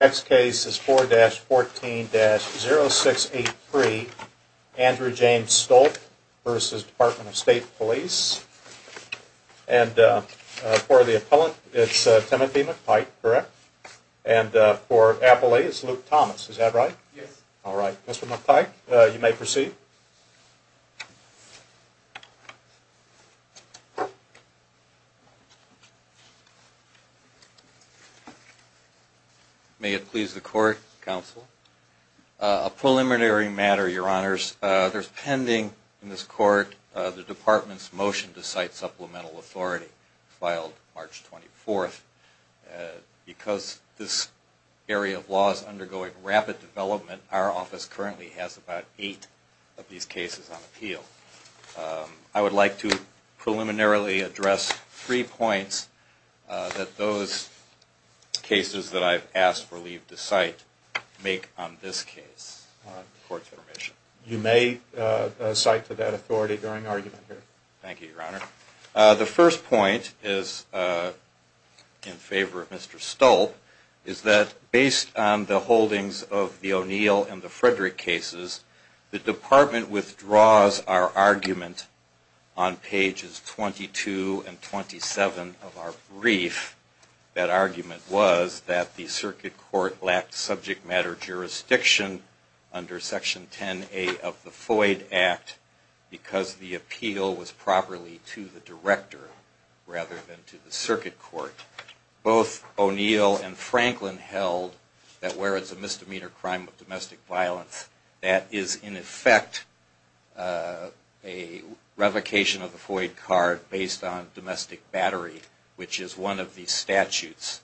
Next case is 4-14-0683, Andrew James Stolp v. The Department of State Police. And for the appellant, it's Timothy McPike, correct? And for appellee, it's Luke Thomas, is that right? Yes. Alright, Mr. McPike, you may proceed. May it please the court, counsel. A preliminary matter, your honors. There's pending in this court the department's motion to cite supplemental authority filed March 24th. Because this area of law is undergoing rapid development, our office currently has about eight of these cases on appeal. I would like to preliminarily address three points that those cases that I've asked for leave to cite make on this case. You may cite to that authority during argument here. Thank you, your honor. The first point is in favor of Mr. Stolp, is that based on the holdings of the O'Neill and the Frederick cases, the department withdraws our argument on pages 22 and 27 of our brief. That argument was that the circuit court lacked subject matter jurisdiction under Section 10A of the Foyd Act because the appeal was properly to the director rather than to the circuit court. Both O'Neill and Franklin held that where it's a misdemeanor crime of domestic violence, that is in effect a revocation of the Foyd card based on domestic battery, which is one of the statutes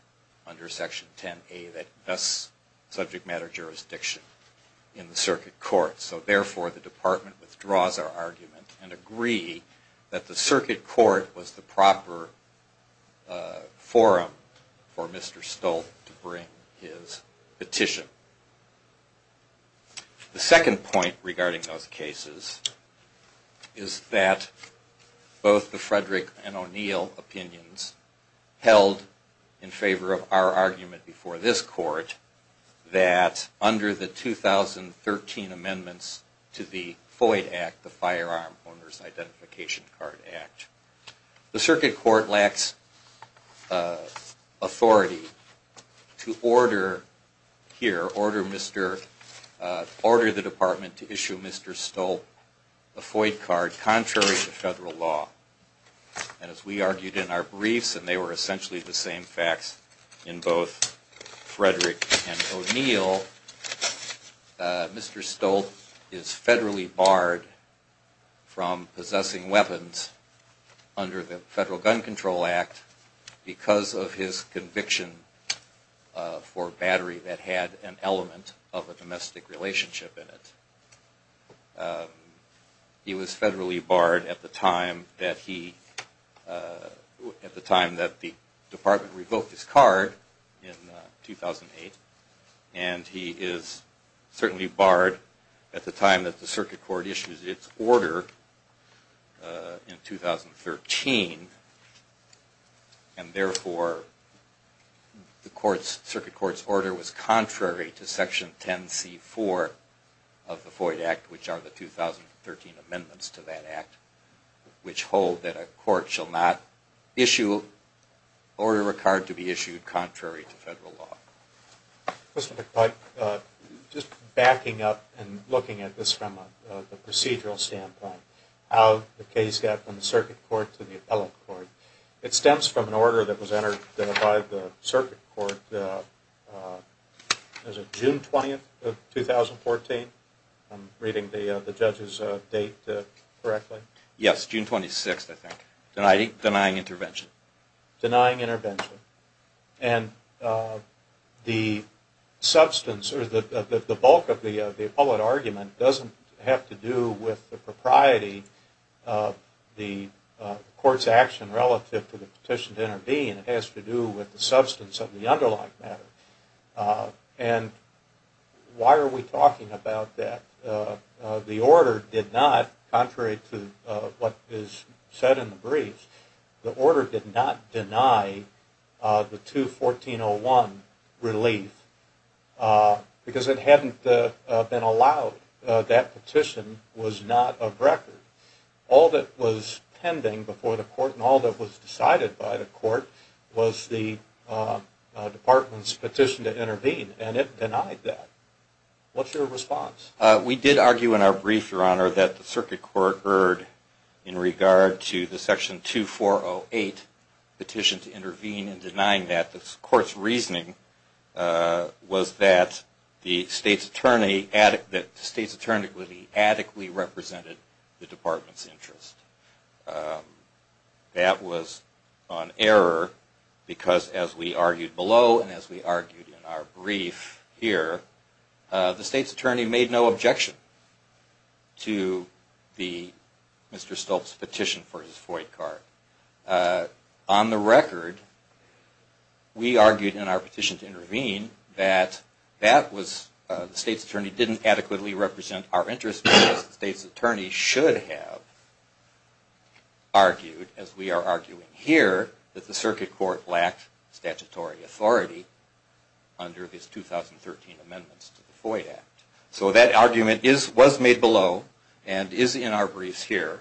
under Section 10A that does subject matter jurisdiction in the circuit court. So therefore, the department withdraws our argument and agree that the circuit court was the proper forum for Mr. Stolp to bring his petition. The second point regarding those cases is that both the Frederick and O'Neill opinions held in favor of our argument before this court, that under the 2013 amendments to the Foyd Act, the Firearm Owners Identification Card Act, the circuit court lacks authority to order here the Foyd card to be returned to the circuit court, and that is in effect a revocation of the Foyd card based on domestic battery, which is one of the statutes under Section 10A that does subject matter jurisdiction in the circuit court. So therefore, we here order the department to issue Mr. Stolp a Foyd card contrary to federal law, and as we argued in our briefs, and they were essentially the same facts in both Frederick and O'Neill, Mr. Stolp is federally barred from possessing weapons under the Federal Gun Control Act because of his conviction for battery that had an element of a domestic relationship in it. He was federally barred at the time that he, at the time that the department revoked his card in 2008, and he is certainly barred at the time that the circuit court issues its order in 2013. And therefore, the court's, circuit court's order was contrary to Section 10C4 of the Foyd Act, which are the 2013 amendments to that act, which hold that a court shall not issue, order a card to be issued contrary to federal law. Mr. McPike, just backing up and looking at this from a procedural standpoint, how the case got from the circuit court to the appellate court, it stems from an order that was entered by the circuit court, was it June 20th of 2014? I'm reading the judge's date correctly. Yes, June 26th, I think, denying intervention. And the substance, or the bulk of the appellate argument doesn't have to do with the propriety of the court's action relative to the petition to intervene. It has to do with the substance of the underlying matter. And why are we talking about that? The order did not, contrary to what is said in the briefs, the order did not deny the 2-1401 relief because it hadn't been allowed. That petition was not of record. All that was pending before the court and all that was decided by the court was the department's petition to intervene, and it denied that. What's your response? We did argue in our brief, Your Honor, that the circuit court heard in regard to the section 2-408 petition to intervene and denying that. The court's reasoning was that the state's attorney adequately represented the department's interest. That was an error because, as we argued below and as we argued in our brief here, the state's attorney made no objection to Mr. Stolz's petition for his FOIA card. On the record, we argued in our petition to intervene that the state's attorney didn't adequately represent our interest because the state's attorney should have argued, as we are arguing here, that the circuit court lacked statutory authority under his 2013 amendments to the FOIA Act. So that argument was made below and is in our briefs here.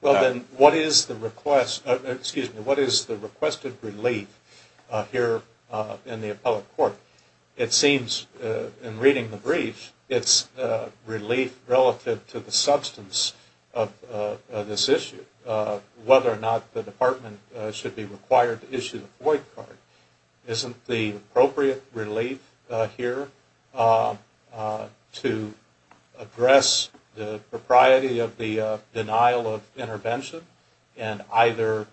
Well, then, what is the requested relief here in the appellate court? It seems, in reading the brief, it's relief relative to the substance of this issue, whether or not the department should be required to issue the FOIA card. Isn't the appropriate relief here to address the propriety of the denial of intervention and either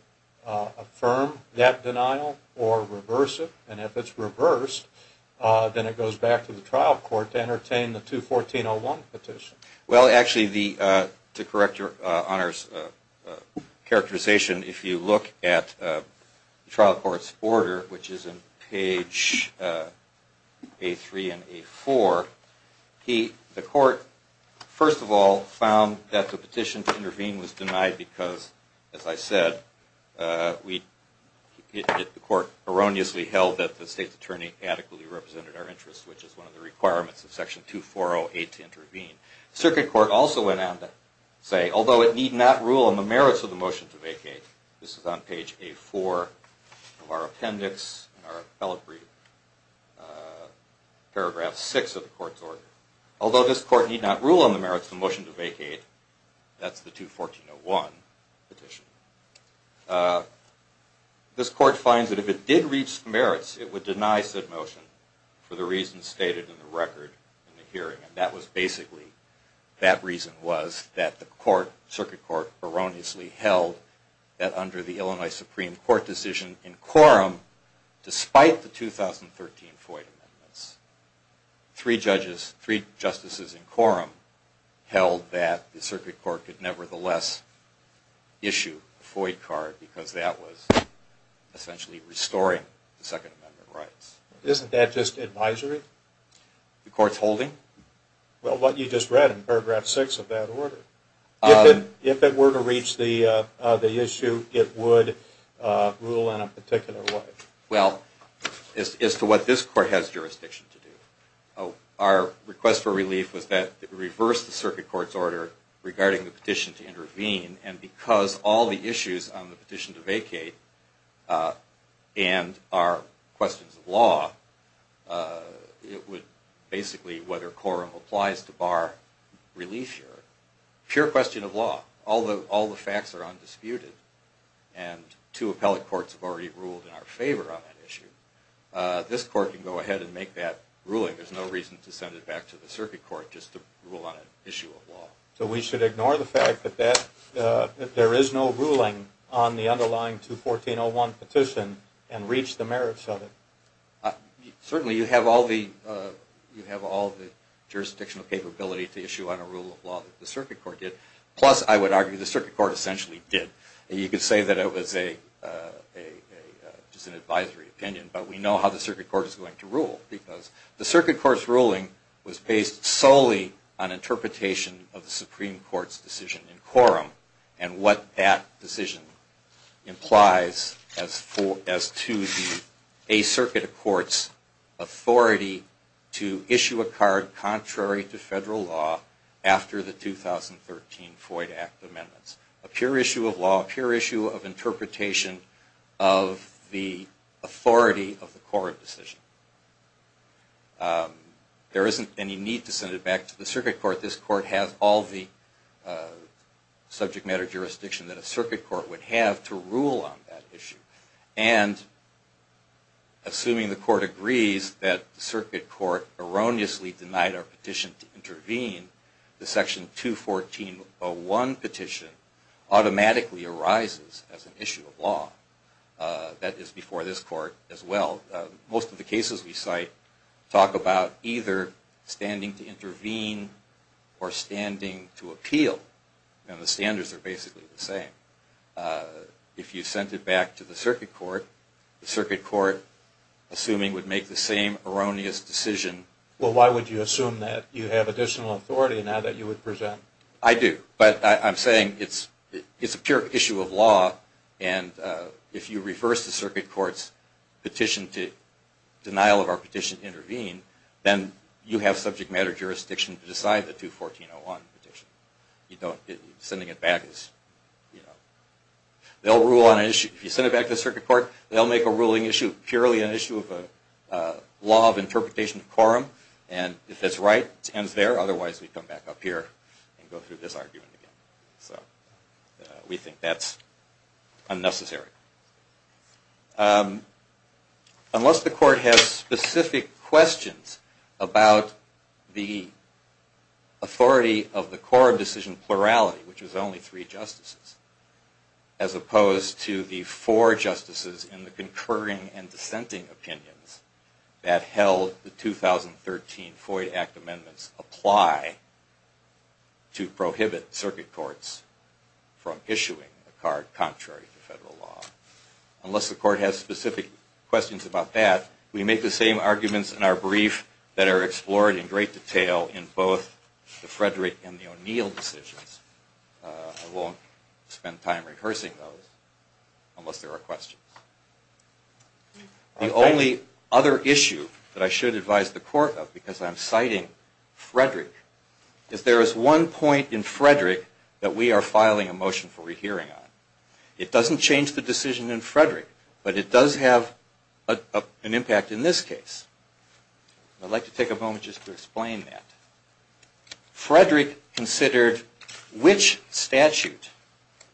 affirm that denial or reverse it? And if it's reversed, then it goes back to the trial court to entertain the 2-1401 petition. Well, actually, to correct your honors characterization, if you look at the trial court's order, which is on page A3 and A4, the court, first of all, found that the petition to intervene was denied because, as I said, the court erroneously held that the state's attorney adequately represented our interest, which is one of the requirements of section 2-408 to intervene. Circuit court also went on to say, although it need not rule on the merits of the motion to vacate, this is on page A4 of our appendix, our appellate brief, paragraph 6 of the court's order. Although this court need not rule on the merits of the motion to vacate, that's the 2-1401 petition, this court finds that if it did reach the merits, it would deny said motion for the reasons stated in the record in the hearing. And that was basically, that reason was that the circuit court erroneously held that under the Illinois Supreme Court decision in quorum, despite the 2013 Foyt amendments, three judges, three justices in quorum held that the circuit court could nevertheless issue a Foyt card because that was essentially restoring the Second Amendment rights. Isn't that just advisory? The court's holding? Well, what you just read in paragraph 6 of that order. If it were to reach the issue, it would rule in a particular way. Well, as to what this court has jurisdiction to do, our request for relief was that it reverse the circuit court's order regarding the petition to intervene and because all the issues on the petition to vacate and are questions of law, it would basically, whether quorum applies to bar relief here, pure question of law. All the facts are undisputed and two appellate courts have already ruled in our favor on that issue. This court can go ahead and make that ruling. There's no reason to send it back to the circuit court just to rule on an issue of law. So we should ignore the fact that there is no ruling on the underlying 2-1401 petition and reach the merits of it? Certainly, you have all the jurisdictional capability to issue on a rule of law that the circuit court did. Plus, I would argue the circuit court essentially did. You could say that it was just an advisory opinion, but we know how the circuit court is going to rule because the circuit court's ruling was based solely on interpretation of the Supreme Court's decision in quorum and what that decision implies as to the circuit court's authority to issue a card contrary to federal law after the 2013 Floyd Act amendments. A pure issue of law, a pure issue of interpretation of the authority of the court decision. There isn't any need to send it back to the circuit court. This court has all the subject matter jurisdiction that a circuit court would have to rule on that issue. And assuming the court agrees that the circuit court erroneously denied our petition to intervene, the section 21401 petition automatically arises as an issue of law. That is before this court as well. Most of the cases we cite talk about either standing to intervene or standing to appeal. The standards are basically the same. If you sent it back to the circuit court, the circuit court, assuming it would make the same erroneous decision... Well, why would you assume that you have additional authority now that you would present? I do, but I'm saying it's a pure issue of law and if you reverse the circuit court's petition to denial of our petition to intervene, then you have subject matter jurisdiction to decide the 21401 petition. If you send it back to the circuit court, they'll make a ruling issue purely an issue of law of interpretation of quorum. And if that's right, it ends there. Otherwise, we come back up here and go through this argument again. We think that's unnecessary. Unless the court has specific questions about the authority of the quorum decision plurality, which is only three justices, as opposed to the four justices in the concurring and dissenting opinions that held the 2013 FOIA Act amendments apply to prohibit circuit courts from issuing a card contrary to federal law. Unless the court has specific questions about that, we make the same arguments in our brief that are explored in great detail in both the Frederick and the O'Neill decisions. I won't spend time rehearsing those unless there are questions. The only other issue that I should advise the court of, because I'm citing Frederick, is there is one point in Frederick that we are filing a motion for rehearing on. It doesn't change the decision in Frederick, but it does have an impact in this case. I'd like to take a moment just to explain that. Frederick considered which statute,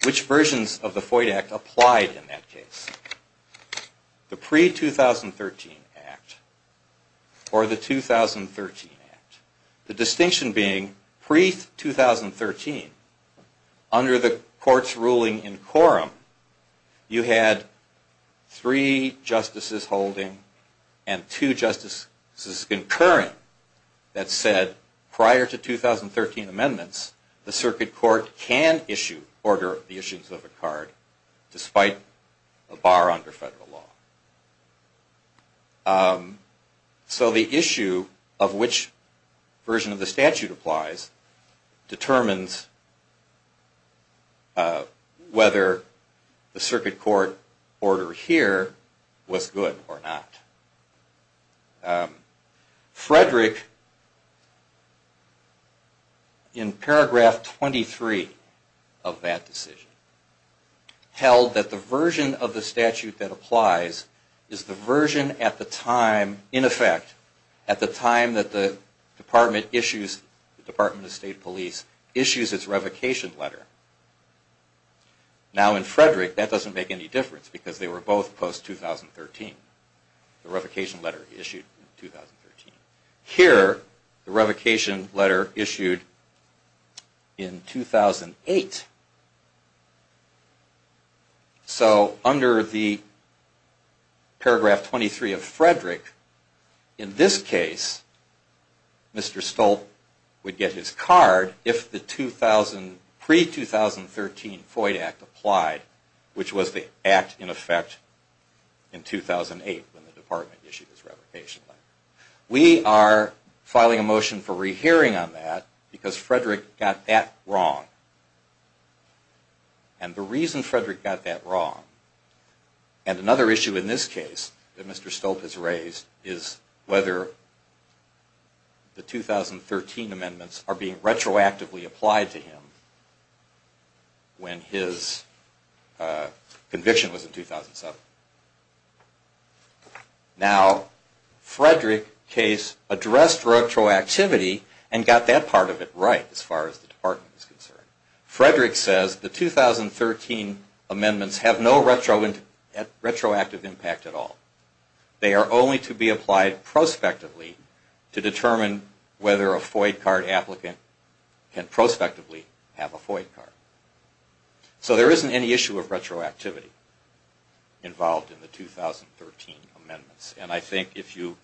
which versions of the FOIA Act applied in that case. The pre-2013 Act or the 2013 Act. The distinction being, pre-2013, under the court's ruling in quorum, you had three justices holding and two justices concurring that said prior to 2013 amendments, the circuit court can issue, order the issuance of a card despite a bar under federal law. So the issue of which version of the statute applies determines whether the circuit court order here was good or not. Frederick, in paragraph 23 of that decision, held that the version of the statute that applies is the version at the time, in effect, at the time that the Department of State Police issues its revocation letter. Now in Frederick, that doesn't make any difference because they were both post-2013. The revocation letter issued in 2013. Here, the revocation letter issued in 2008. So under the paragraph 23 of Frederick, in this case, Mr. Stolt would get his card if the 2000, pre-2013 FOIA Act applied, which was the Act, in effect, in 2008 when the Department issued its revocation letter. We are filing a motion for rehearing on that because Frederick got that wrong. And the reason Frederick got that wrong, and another issue in this case that Mr. Stolt has raised, is whether the 2013 amendments are being retroactively applied to him when his conviction was in 2007. Now, Frederick's case addressed retroactivity and got that part of it right, as far as the Department is concerned. Frederick says the 2013 amendments have no retroactive impact at all. They are only to be applied prospectively to determine whether a FOIA card applicant can prospectively have a FOIA card. So there isn't any issue of retroactivity involved in the 2013 amendments. And I think if you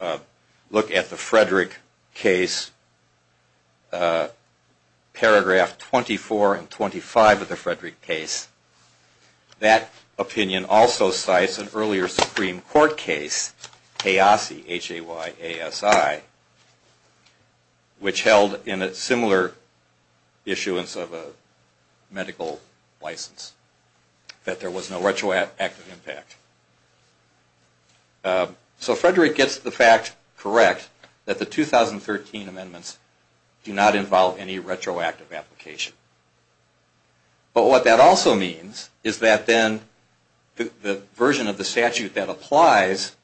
look at the Frederick case, paragraph 24 and 25 of the Frederick case, that opinion also cites an earlier Supreme Court case, Hayassi, H-A-Y-A-S-S-I, which held in a similar issuance of a medical license, that there was no retroactive impact. So Frederick gets the fact correct that the 2013 amendments do not involve any retroactive application. But what that also means is that then the version of the statute that applies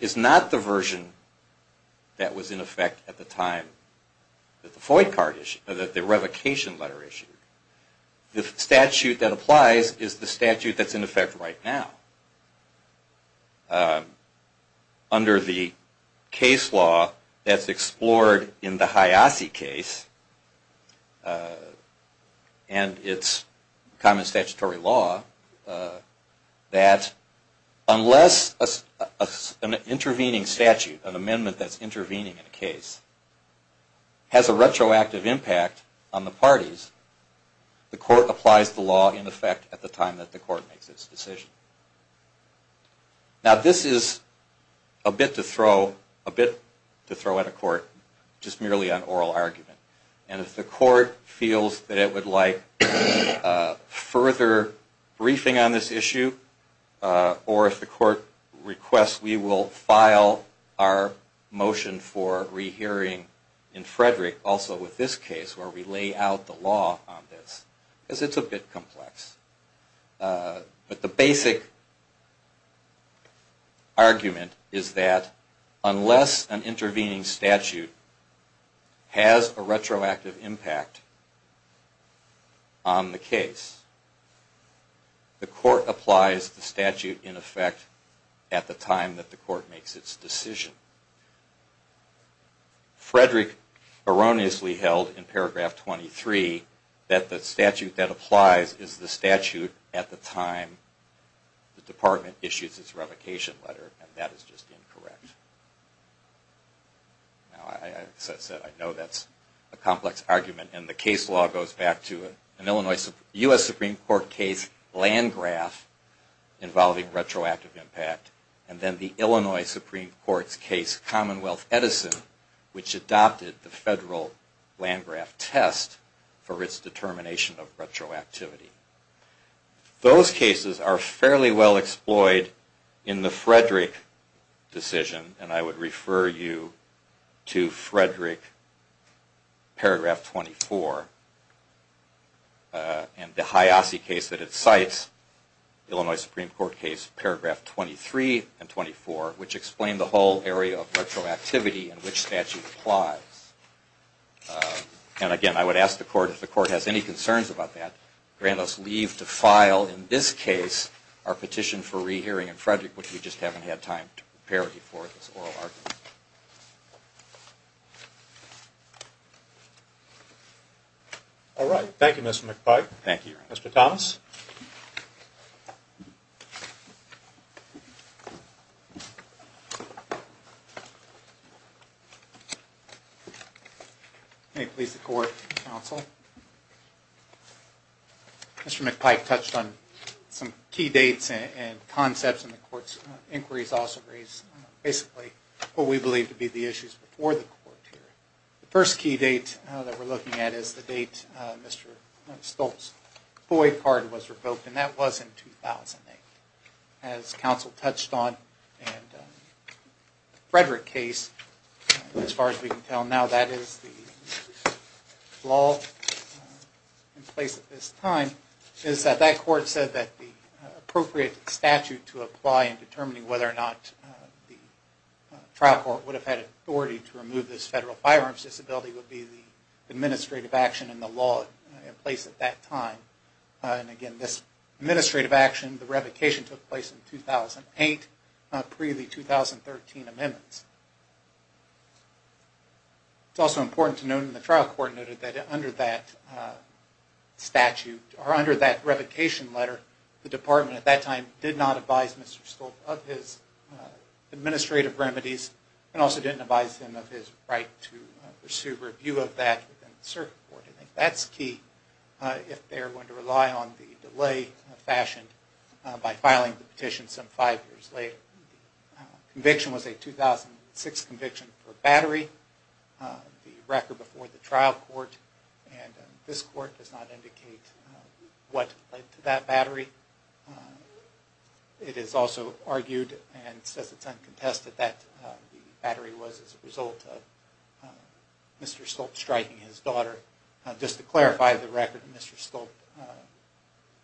is not the version that was in effect at the time that the revocation letter issued. The statute that applies is the statute that's in effect right now. Under the case law that's explored in the Hayassi case, and its common statutory law, that unless an intervening statute, an amendment that's intervening in a case, has a retroactive impact on the parties, the court applies the law in effect at the time that the court makes its decision. Now this is a bit to throw at a court just merely on oral argument. And if the court feels that it would like further briefing on this issue, or if the court requests we will file our motion for rehearing in Frederick also with this case where we lay out the law on this, because it's a bit complex. But the basic argument is that unless an intervening statute has a retroactive impact on the case, the court applies the statute in effect at the time that the court makes its decision. Frederick erroneously held in paragraph 23 that the statute that applies is the statute at the time the department issues its revocation letter, and that is just incorrect. Now as I said, I know that's a complex argument, and the case law goes back to an U.S. Supreme Court case land graph involving retroactive impact, and then the Illinois Supreme Court's case land graph. And then the Illinois Supreme Court case commonwealth Edison, which adopted the federal land graph test for its determination of retroactivity. Those cases are fairly well-exploited in the Frederick decision, and I would refer you to Frederick paragraph 24, and the Hiasi case that it cites, Illinois Supreme Court case paragraph 23 and 24, which explain the whole area of retroactivity. And again, I would ask the court, if the court has any concerns about that, grant us leave to file, in this case, our petition for rehearing in Frederick, which we just haven't had time to prepare before this oral argument. All right. Thank you, Mr. McPike. Thank you, Your Honor. Mr. Thomas. May it please the court, counsel. Mr. McPike touched on some key dates and concepts in the court's inquiries, also raised basically what we believe to be the issues before the court here. The first key date that we're looking at is the date Mr. Stoltz's FOIA card was revoked, and that was in 2008. As counsel touched on in the Frederick case, as far as we can tell now, that is the law in place at this time, is that that court said that the appropriate statute to apply in determining whether or not the trial court would have had authority to remove this federal firearms disability would be the administrative action in the law in place at that time. And again, this administrative action, the revocation took place in 2008, pre the 2013 amendments. It's also important to note that the trial court noted that under that statute, or under that revocation letter, the department at that time did not advise Mr. Stoltz of his administrative remedies, and also didn't advise him of his right to pursue review of that within the circuit court. I think that's key if they're going to rely on the delay fashioned by filing the petition some five years later. The conviction was a 2006 conviction for battery, the record before the trial court, and this court does not indicate what led to that battery. It is also argued and says it's uncontested that the battery was as a result of Mr. Stoltz striking his daughter. Just to clarify the record, Mr. Stoltz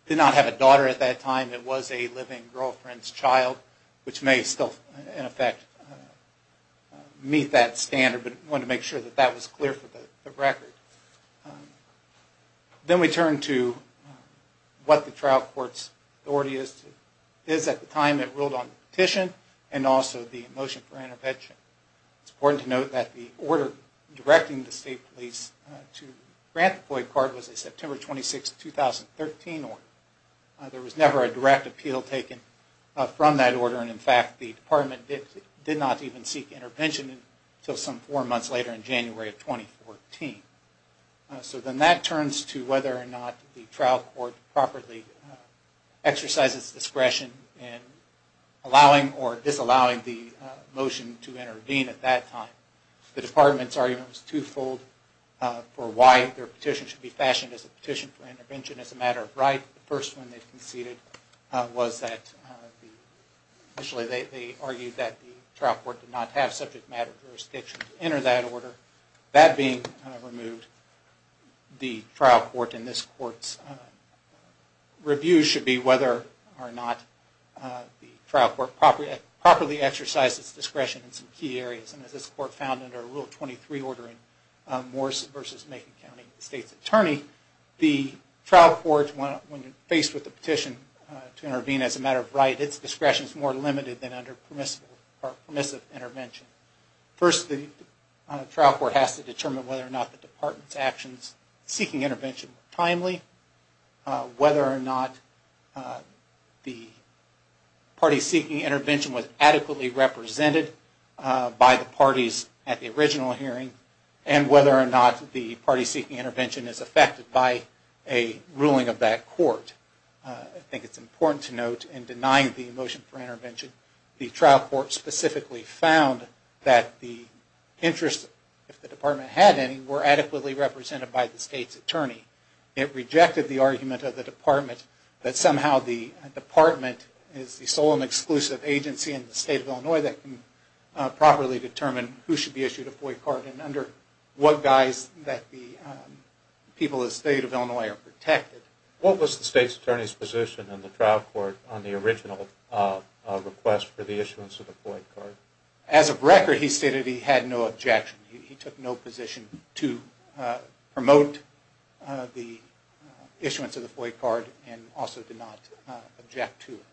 did not have a daughter at that time, it was a living girlfriend's child, which may still in effect meet that standard, but wanted to make sure that that was clear for the record. Then we turn to what the trial court's authority is at the time it ruled on the petition, and also the motion for intervention. It's important to note that the order directing the state police to grant the FOIA card was a September 26, 2013 order. There was never a direct appeal taken from that order, and in fact the department did not even seek intervention until some four months later in January of 2014. So then that turns to whether or not the trial court properly exercises discretion in allowing or disallowing the motion to intervene at that time. The department's argument was twofold for why their petition should be fashioned as a petition for intervention as a matter of right. The first one they conceded was that, actually they argued that the trial court did not have subject matter jurisdiction to enter that order. That being removed, the trial court and this court's review should be whether or not the trial court properly exercised its discretion in some key areas. And as this court found under Rule 23 ordering Morris v. Macon County State's Attorney, the trial court, when faced with a petition to intervene as a matter of right, its discretion is more limited than under permissive intervention. First, the trial court has to determine whether or not the department's actions seeking intervention were timely, whether or not the party seeking intervention was adequately represented by the parties at the original hearing, and whether or not the party seeking intervention is affected by a ruling of that court. I think it's important to note in denying the motion for intervention, the trial court specifically found that the interests, if the department had any, were adequately represented by the state's attorney. It rejected the argument of the department that somehow the department is the sole and exclusive agency in the state of Illinois that can properly determine who should be issued a FOIA card and under what guise that the people of the state of Illinois are protected. What was the state's attorney's position in the trial court on the original request for the issuance of the FOIA card? As of record, he stated he had no objection. He took no position to promote the issuance of the FOIA card and also did not object to it.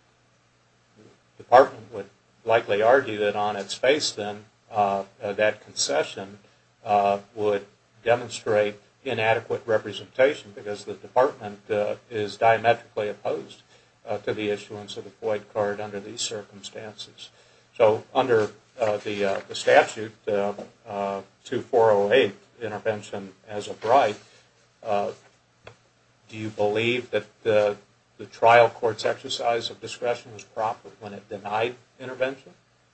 The department would likely argue that on its face, then, that concession would demonstrate inadequate representation because the department is diametrically opposed to the issuance of the FOIA card under these circumstances. So, under the statute, 2408, Intervention as a Bride, do you believe that the trial court's exercise of discretion was proper?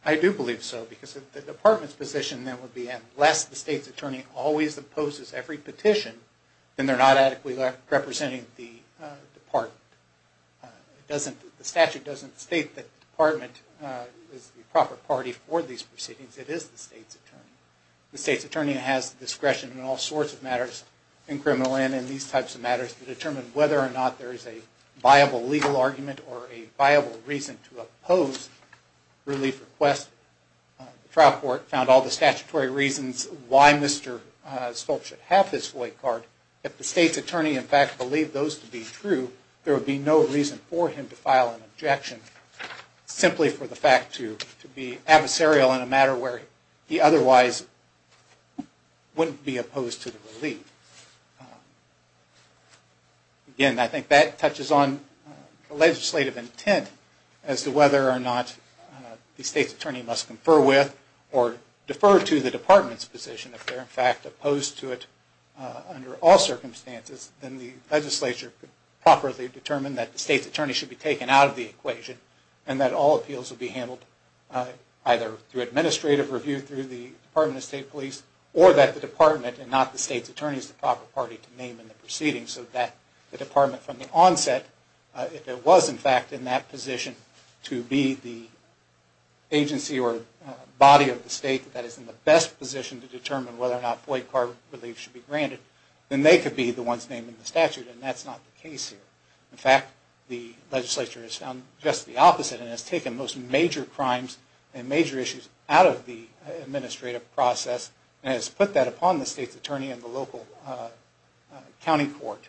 I do believe so, because the department's position then would be that unless the state's attorney always opposes every petition, then they're not adequately representing the department. The statute doesn't state that the department is the proper party for these proceedings, it is the state's attorney. The state's attorney has discretion in all sorts of matters, in criminal and in these types of matters, to determine whether or not there is a viable legal argument or a viable reason to object. The trial court found all the statutory reasons why Mr. Stoltz should have his FOIA card. If the state's attorney, in fact, believed those to be true, there would be no reason for him to file an objection, simply for the fact to be adversarial in a matter where he otherwise wouldn't be opposed to the relief. Again, I think that touches on the legislative intent as to whether or not the state's attorney must confer with or defer to the department's position. If they're, in fact, opposed to it under all circumstances, then the legislature could properly determine that the state's attorney should be taken out of the equation and that all appeals would be handled either through administrative review, through the Department of State Police, or that the department, and not the state's attorney, use the proper party to name in the proceedings so that the department from the onset, if it was, in fact, in that position to be the agency or body of the state that is in the best position to determine whether or not FOIA card relief should be granted, then they could be the ones naming the statute, and that's not the case here. In fact, the legislature has found just the opposite and has taken those major crimes and major issues out of the administrative process and has put that upon the state's attorney and the local county court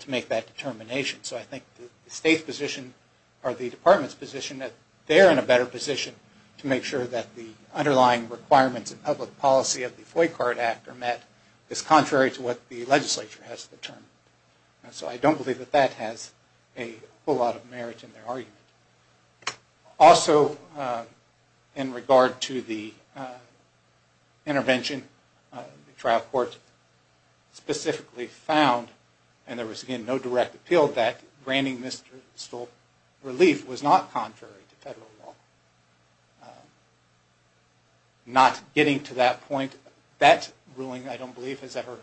to make that determination. So I think the state's position, or the department's position, that they're in a better position to make sure that the underlying requirements and public policy of the FOIA card act are met is contrary to what the legislature has determined. So I don't believe that that has a whole lot of merit in their argument. Also, in regard to the intervention, the trial court specifically found, and there was, again, no direct appeal, that granting this relief was not contrary to federal law. Not getting to that point, that ruling, I don't believe, has ever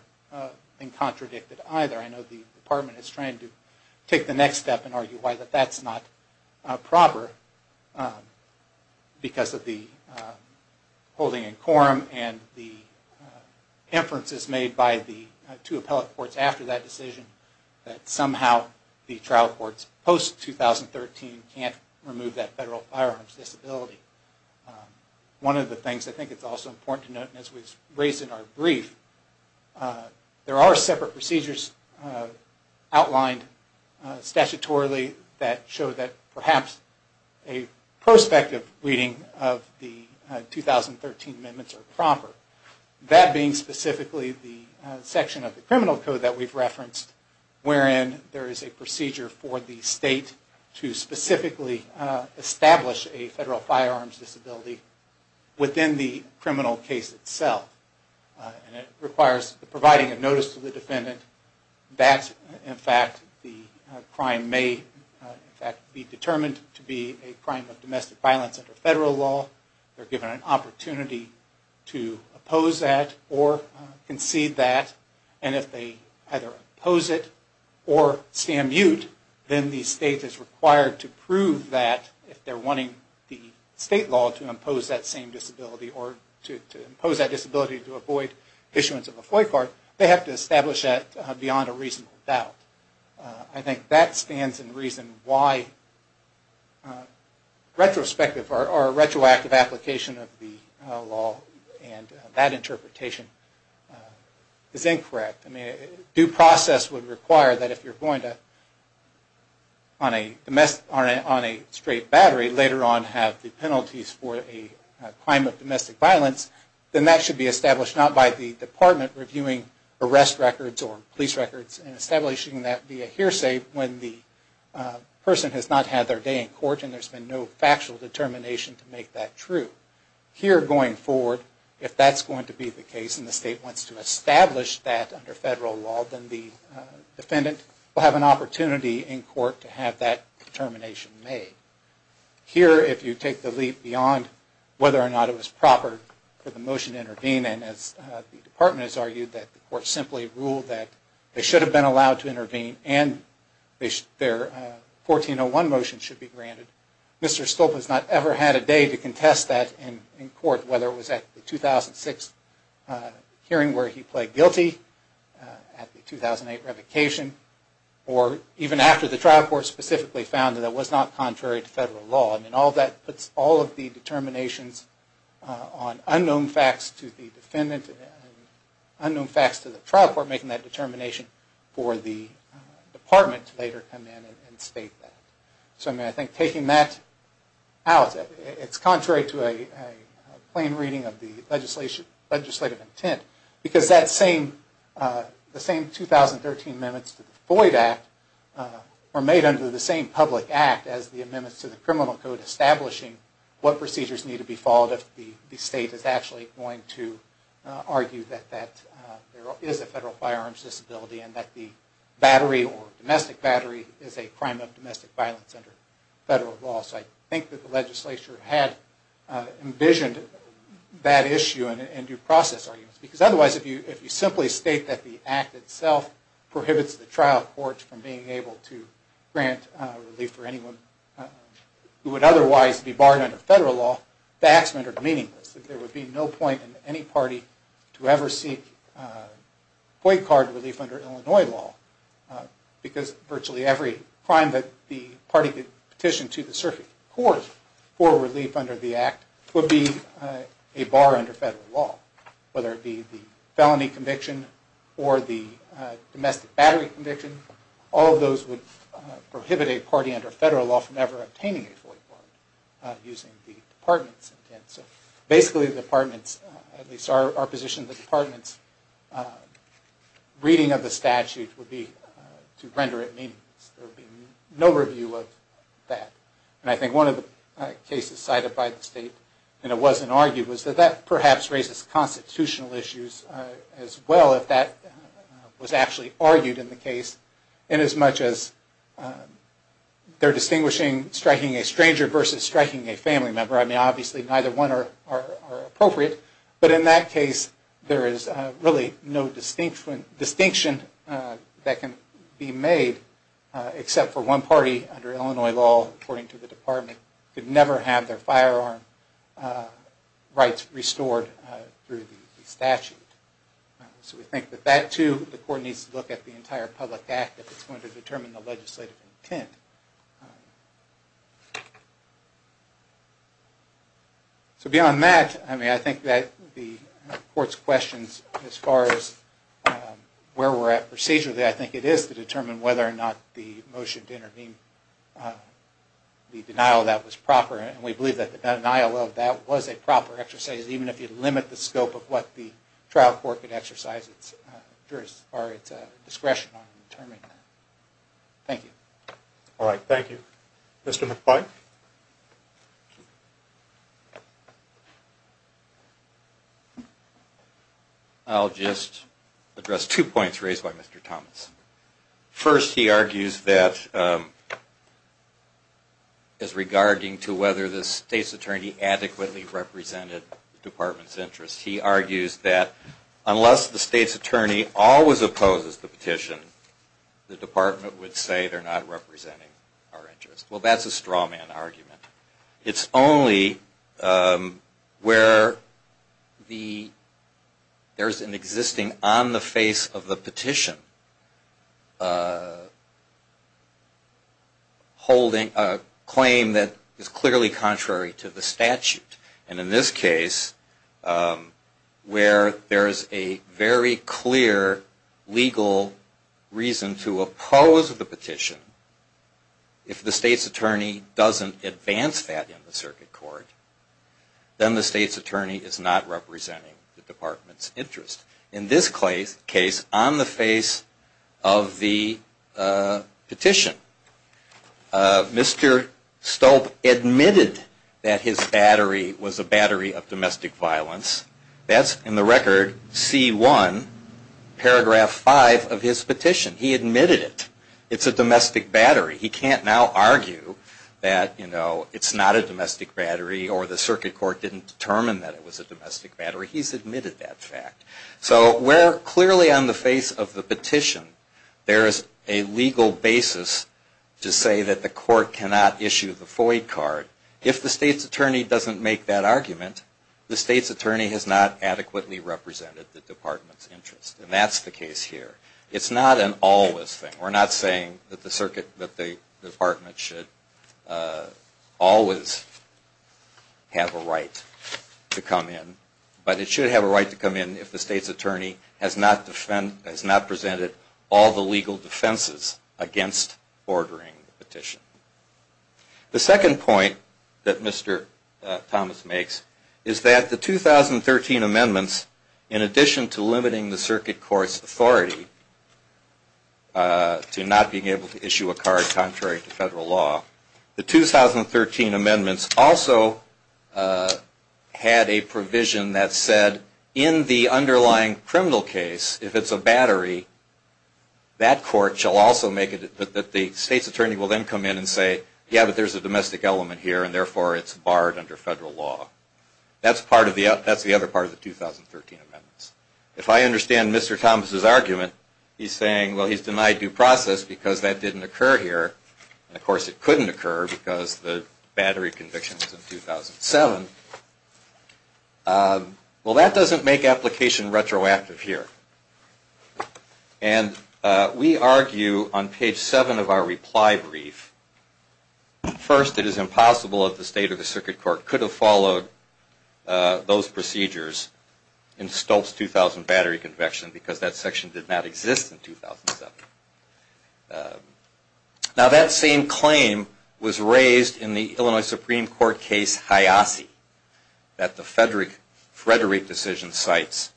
been contradicted either. I know the department is trying to take the next step and argue why that's not proper because of the holding in quorum and the inferences made by the two appellate courts after that decision that somehow the trial courts post-2013 can't remove that federal firearm's disability. One of the things I think it's also important to note, and as we've raised in our brief, there are separate procedures, outlined statutorily that show that perhaps a prospective reading of the 2013 amendments are proper. That being specifically the section of the criminal code that we've referenced, wherein there is a procedure for the state to specifically establish a federal firearms disability within the criminal case itself. And it requires providing a notice to the defendant that, in fact, the crime may, in fact, be determined to be a crime of domestic violence under federal law. They're given an opportunity to oppose that or concede that. And if they either oppose it or stand mute, then the state is required to prove that if they're wanting the state law to impose that same disability to avoid issuance of a FOIC card, they have to establish that beyond a reasonable doubt. I think that stands in reason why retrospective or retroactive application of the law and that interpretation is incorrect. Due process would require that if you're going to, on a straight battery, later on have the penalties for a crime of domestic violence then that should be established not by the department reviewing arrest records or police records and establishing that via hearsay when the person has not had their day in court and there's been no factual determination to make that true. Here going forward, if that's going to be the case and the state wants to establish that under federal law, then the defendant will have an opportunity in court to have that determination made. And as the department has argued, the court simply ruled that they should have been allowed to intervene and their 1401 motion should be granted. Mr. Stolp has not ever had a day to contest that in court, whether it was at the 2006 hearing where he pled guilty, at the 2008 revocation, or even after the trial court specifically found that it was not contrary to federal law. All of that puts all of the determinations on unknown facts to the defendant and unknown facts to the trial court making that determination for the department to later come in and state that. So I think taking that out, it's contrary to a plain reading of the legislative intent because the same 2013 amendments to the Floyd Act were made under the same code establishing what procedures need to be followed if the state is actually going to argue that there is a federal firearms disability and that the battery or domestic battery is a crime of domestic violence under federal law. So I think that the legislature had envisioned that issue in due process arguments. Because otherwise, if you simply state that the act itself prohibits the trial court from being able to grant relief for anyone, who would otherwise be barred under federal law, the acts rendered meaningless. There would be no point in any party to ever seek Floyd card relief under Illinois law because virtually every crime that the party could petition to the circuit court for relief under the act would be a bar under federal law. Whether it be the felony conviction or the domestic battery conviction, all of those would prohibit a party under federal law from ever obtaining a Floyd card. Using the department's intent. So basically the department's, at least our position, the department's reading of the statute would be to render it meaningless. There would be no review of that. And I think one of the cases cited by the state, and it wasn't argued, was that that perhaps raises constitutional issues as well if that was actually argued in the case. In as much as they're distinguishing striking a stranger versus striking a family member. I mean, obviously neither one are appropriate. But in that case, there is really no distinction that can be made except for one party under Illinois law, according to the department, could never have their firearm rights restored through the statute. So we think that that too, the court needs to look at the entire public act if it's going to determine the legislative intent. So beyond that, I mean, I think that the court's questions as far as where we're at procedurally, I think it is to determine whether or not the motion to intervene, the denial of that was proper. And we believe that the denial of that was a proper exercise, even if you limit the scope of what the trial court could exercise as far as its discretion on determining that. Thank you. I'll just address two points raised by Mr. Thomas. First, he argues that as regarding to whether the state's attorney adequately represented the department's interest. He argues that unless the state's attorney always opposes the petition, the department would say they're not representing our interest. Well, that's a straw man argument. It's only where there's an existing on-the-face-of-the-petition claim that is clearly contrary to the statute. And in this case, where there's a very clear legal reason to oppose the petition, if the state's attorney doesn't advance the petition. If the state's attorney doesn't advance that in the circuit court, then the state's attorney is not representing the department's interest. In this case, on the face of the petition, Mr. Stolpe admitted that his battery was a battery of domestic violence. That's in the record, C1, paragraph 5 of his petition. He admitted it. It's a domestic battery. He can't now argue that, you know, it's not a domestic battery or the circuit court didn't determine that it was a domestic battery. He's admitted that fact. So we're clearly on the face of the petition. There is a legal basis to say that the court cannot issue the FOIA card. If the state's attorney doesn't make that argument, the state's attorney has not adequately represented the department's interest. And that's the case here. It's not an always thing. We're not saying that the department should always have a right to come in. But it should have a right to come in if the state's attorney has not presented all the legal defenses against ordering the petition. The second point that Mr. Thomas makes is that the 2013 amendments, in addition to limiting the circuit court's authority, to not being able to issue a card contrary to federal law, the 2013 amendments also had a provision that said in the underlying criminal case, if it's a battery, that court shall also make it that the state's attorney will then come in and say, yeah, but there's a domestic element here and therefore it's barred under federal law. That's the other part of the 2013 amendments. If I understand Mr. Thomas' argument, he's saying, well, he's denied due process because that didn't occur here, and of course it couldn't occur because the battery conviction was in 2007. Well, that doesn't make application retroactive here. And we argue on page 7 of our reply brief, first, it is impossible that the state or the circuit court could have followed those procedures in Stolz's 2000 battery conviction because that section did not exist in 2007. Now, that same claim was raised in the Illinois Supreme Court case Hiasi that the Frederick decision cites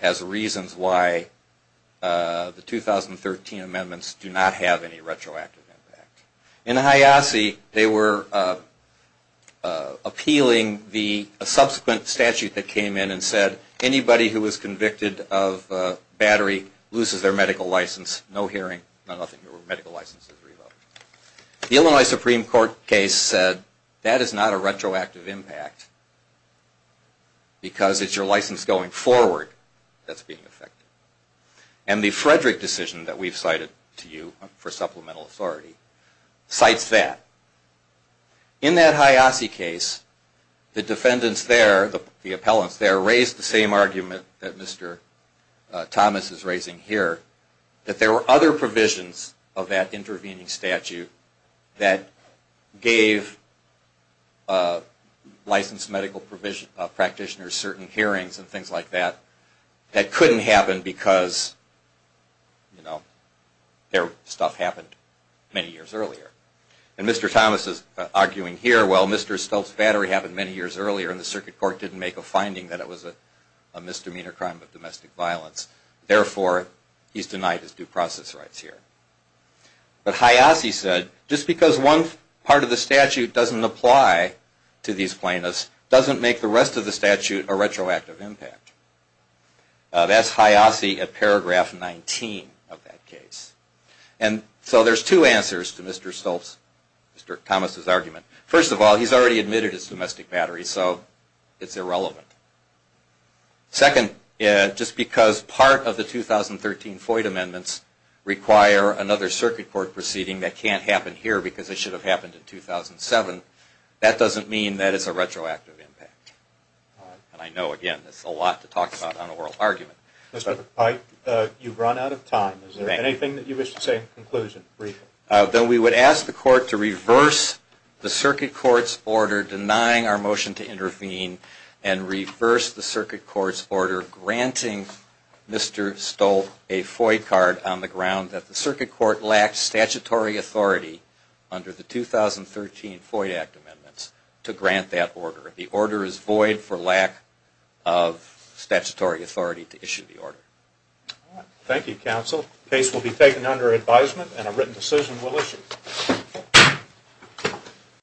as reasons why the 2013 amendments do not have any retroactive impact. In Hiasi, they were appealing the subsequent statute that came in and said, anybody who was convicted of battery loses their medical license. The Illinois Supreme Court case said that is not a retroactive impact because it's your license going forward that's being affected. And the Frederick decision that we've cited to you for supplemental authority cites that. In that Hiasi case, the defendants there, the appellants there, raised the same argument that Mr. Thomas is raising here, that there were other provisions of that intervening statute that gave licensed medical practitioners certain hearings and things like that, that couldn't happen because their stuff happened many years earlier. And Mr. Thomas is arguing here, well, Mr. Stolz's battery happened many years earlier and the circuit court didn't make a finding that it was a misdemeanor crime of domestic violence. Therefore, he's denied his due process rights here. But Hiasi said, just because one part of the statute doesn't apply to these plaintiffs doesn't make the rest of the statute a retroactive impact. That's Hiasi at paragraph 19 of that case. And so there's two answers to Mr. Thomas' argument. First of all, he's already admitted his domestic battery, so it's irrelevant. Second, just because part of the 2013 FOIA amendments require another circuit court proceeding that can't happen here because it should have happened in 2007, that doesn't mean that it's a retroactive impact. And I know, again, that's a lot to talk about on oral argument. Mr. Pike, you've run out of time. Is there anything that you wish to say in conclusion? Then we would ask the court to reverse the circuit court's order denying our motion to intervene and reverse the circuit court's order granting Mr. Stolz a FOIA card on the ground that the circuit court lacked statutory authority under the 2013 FOIA Act amendments to grant that order. The order is void for lack of statutory authority to issue the order. Thank you, counsel. The case will be taken under advisement and a written decision will issue.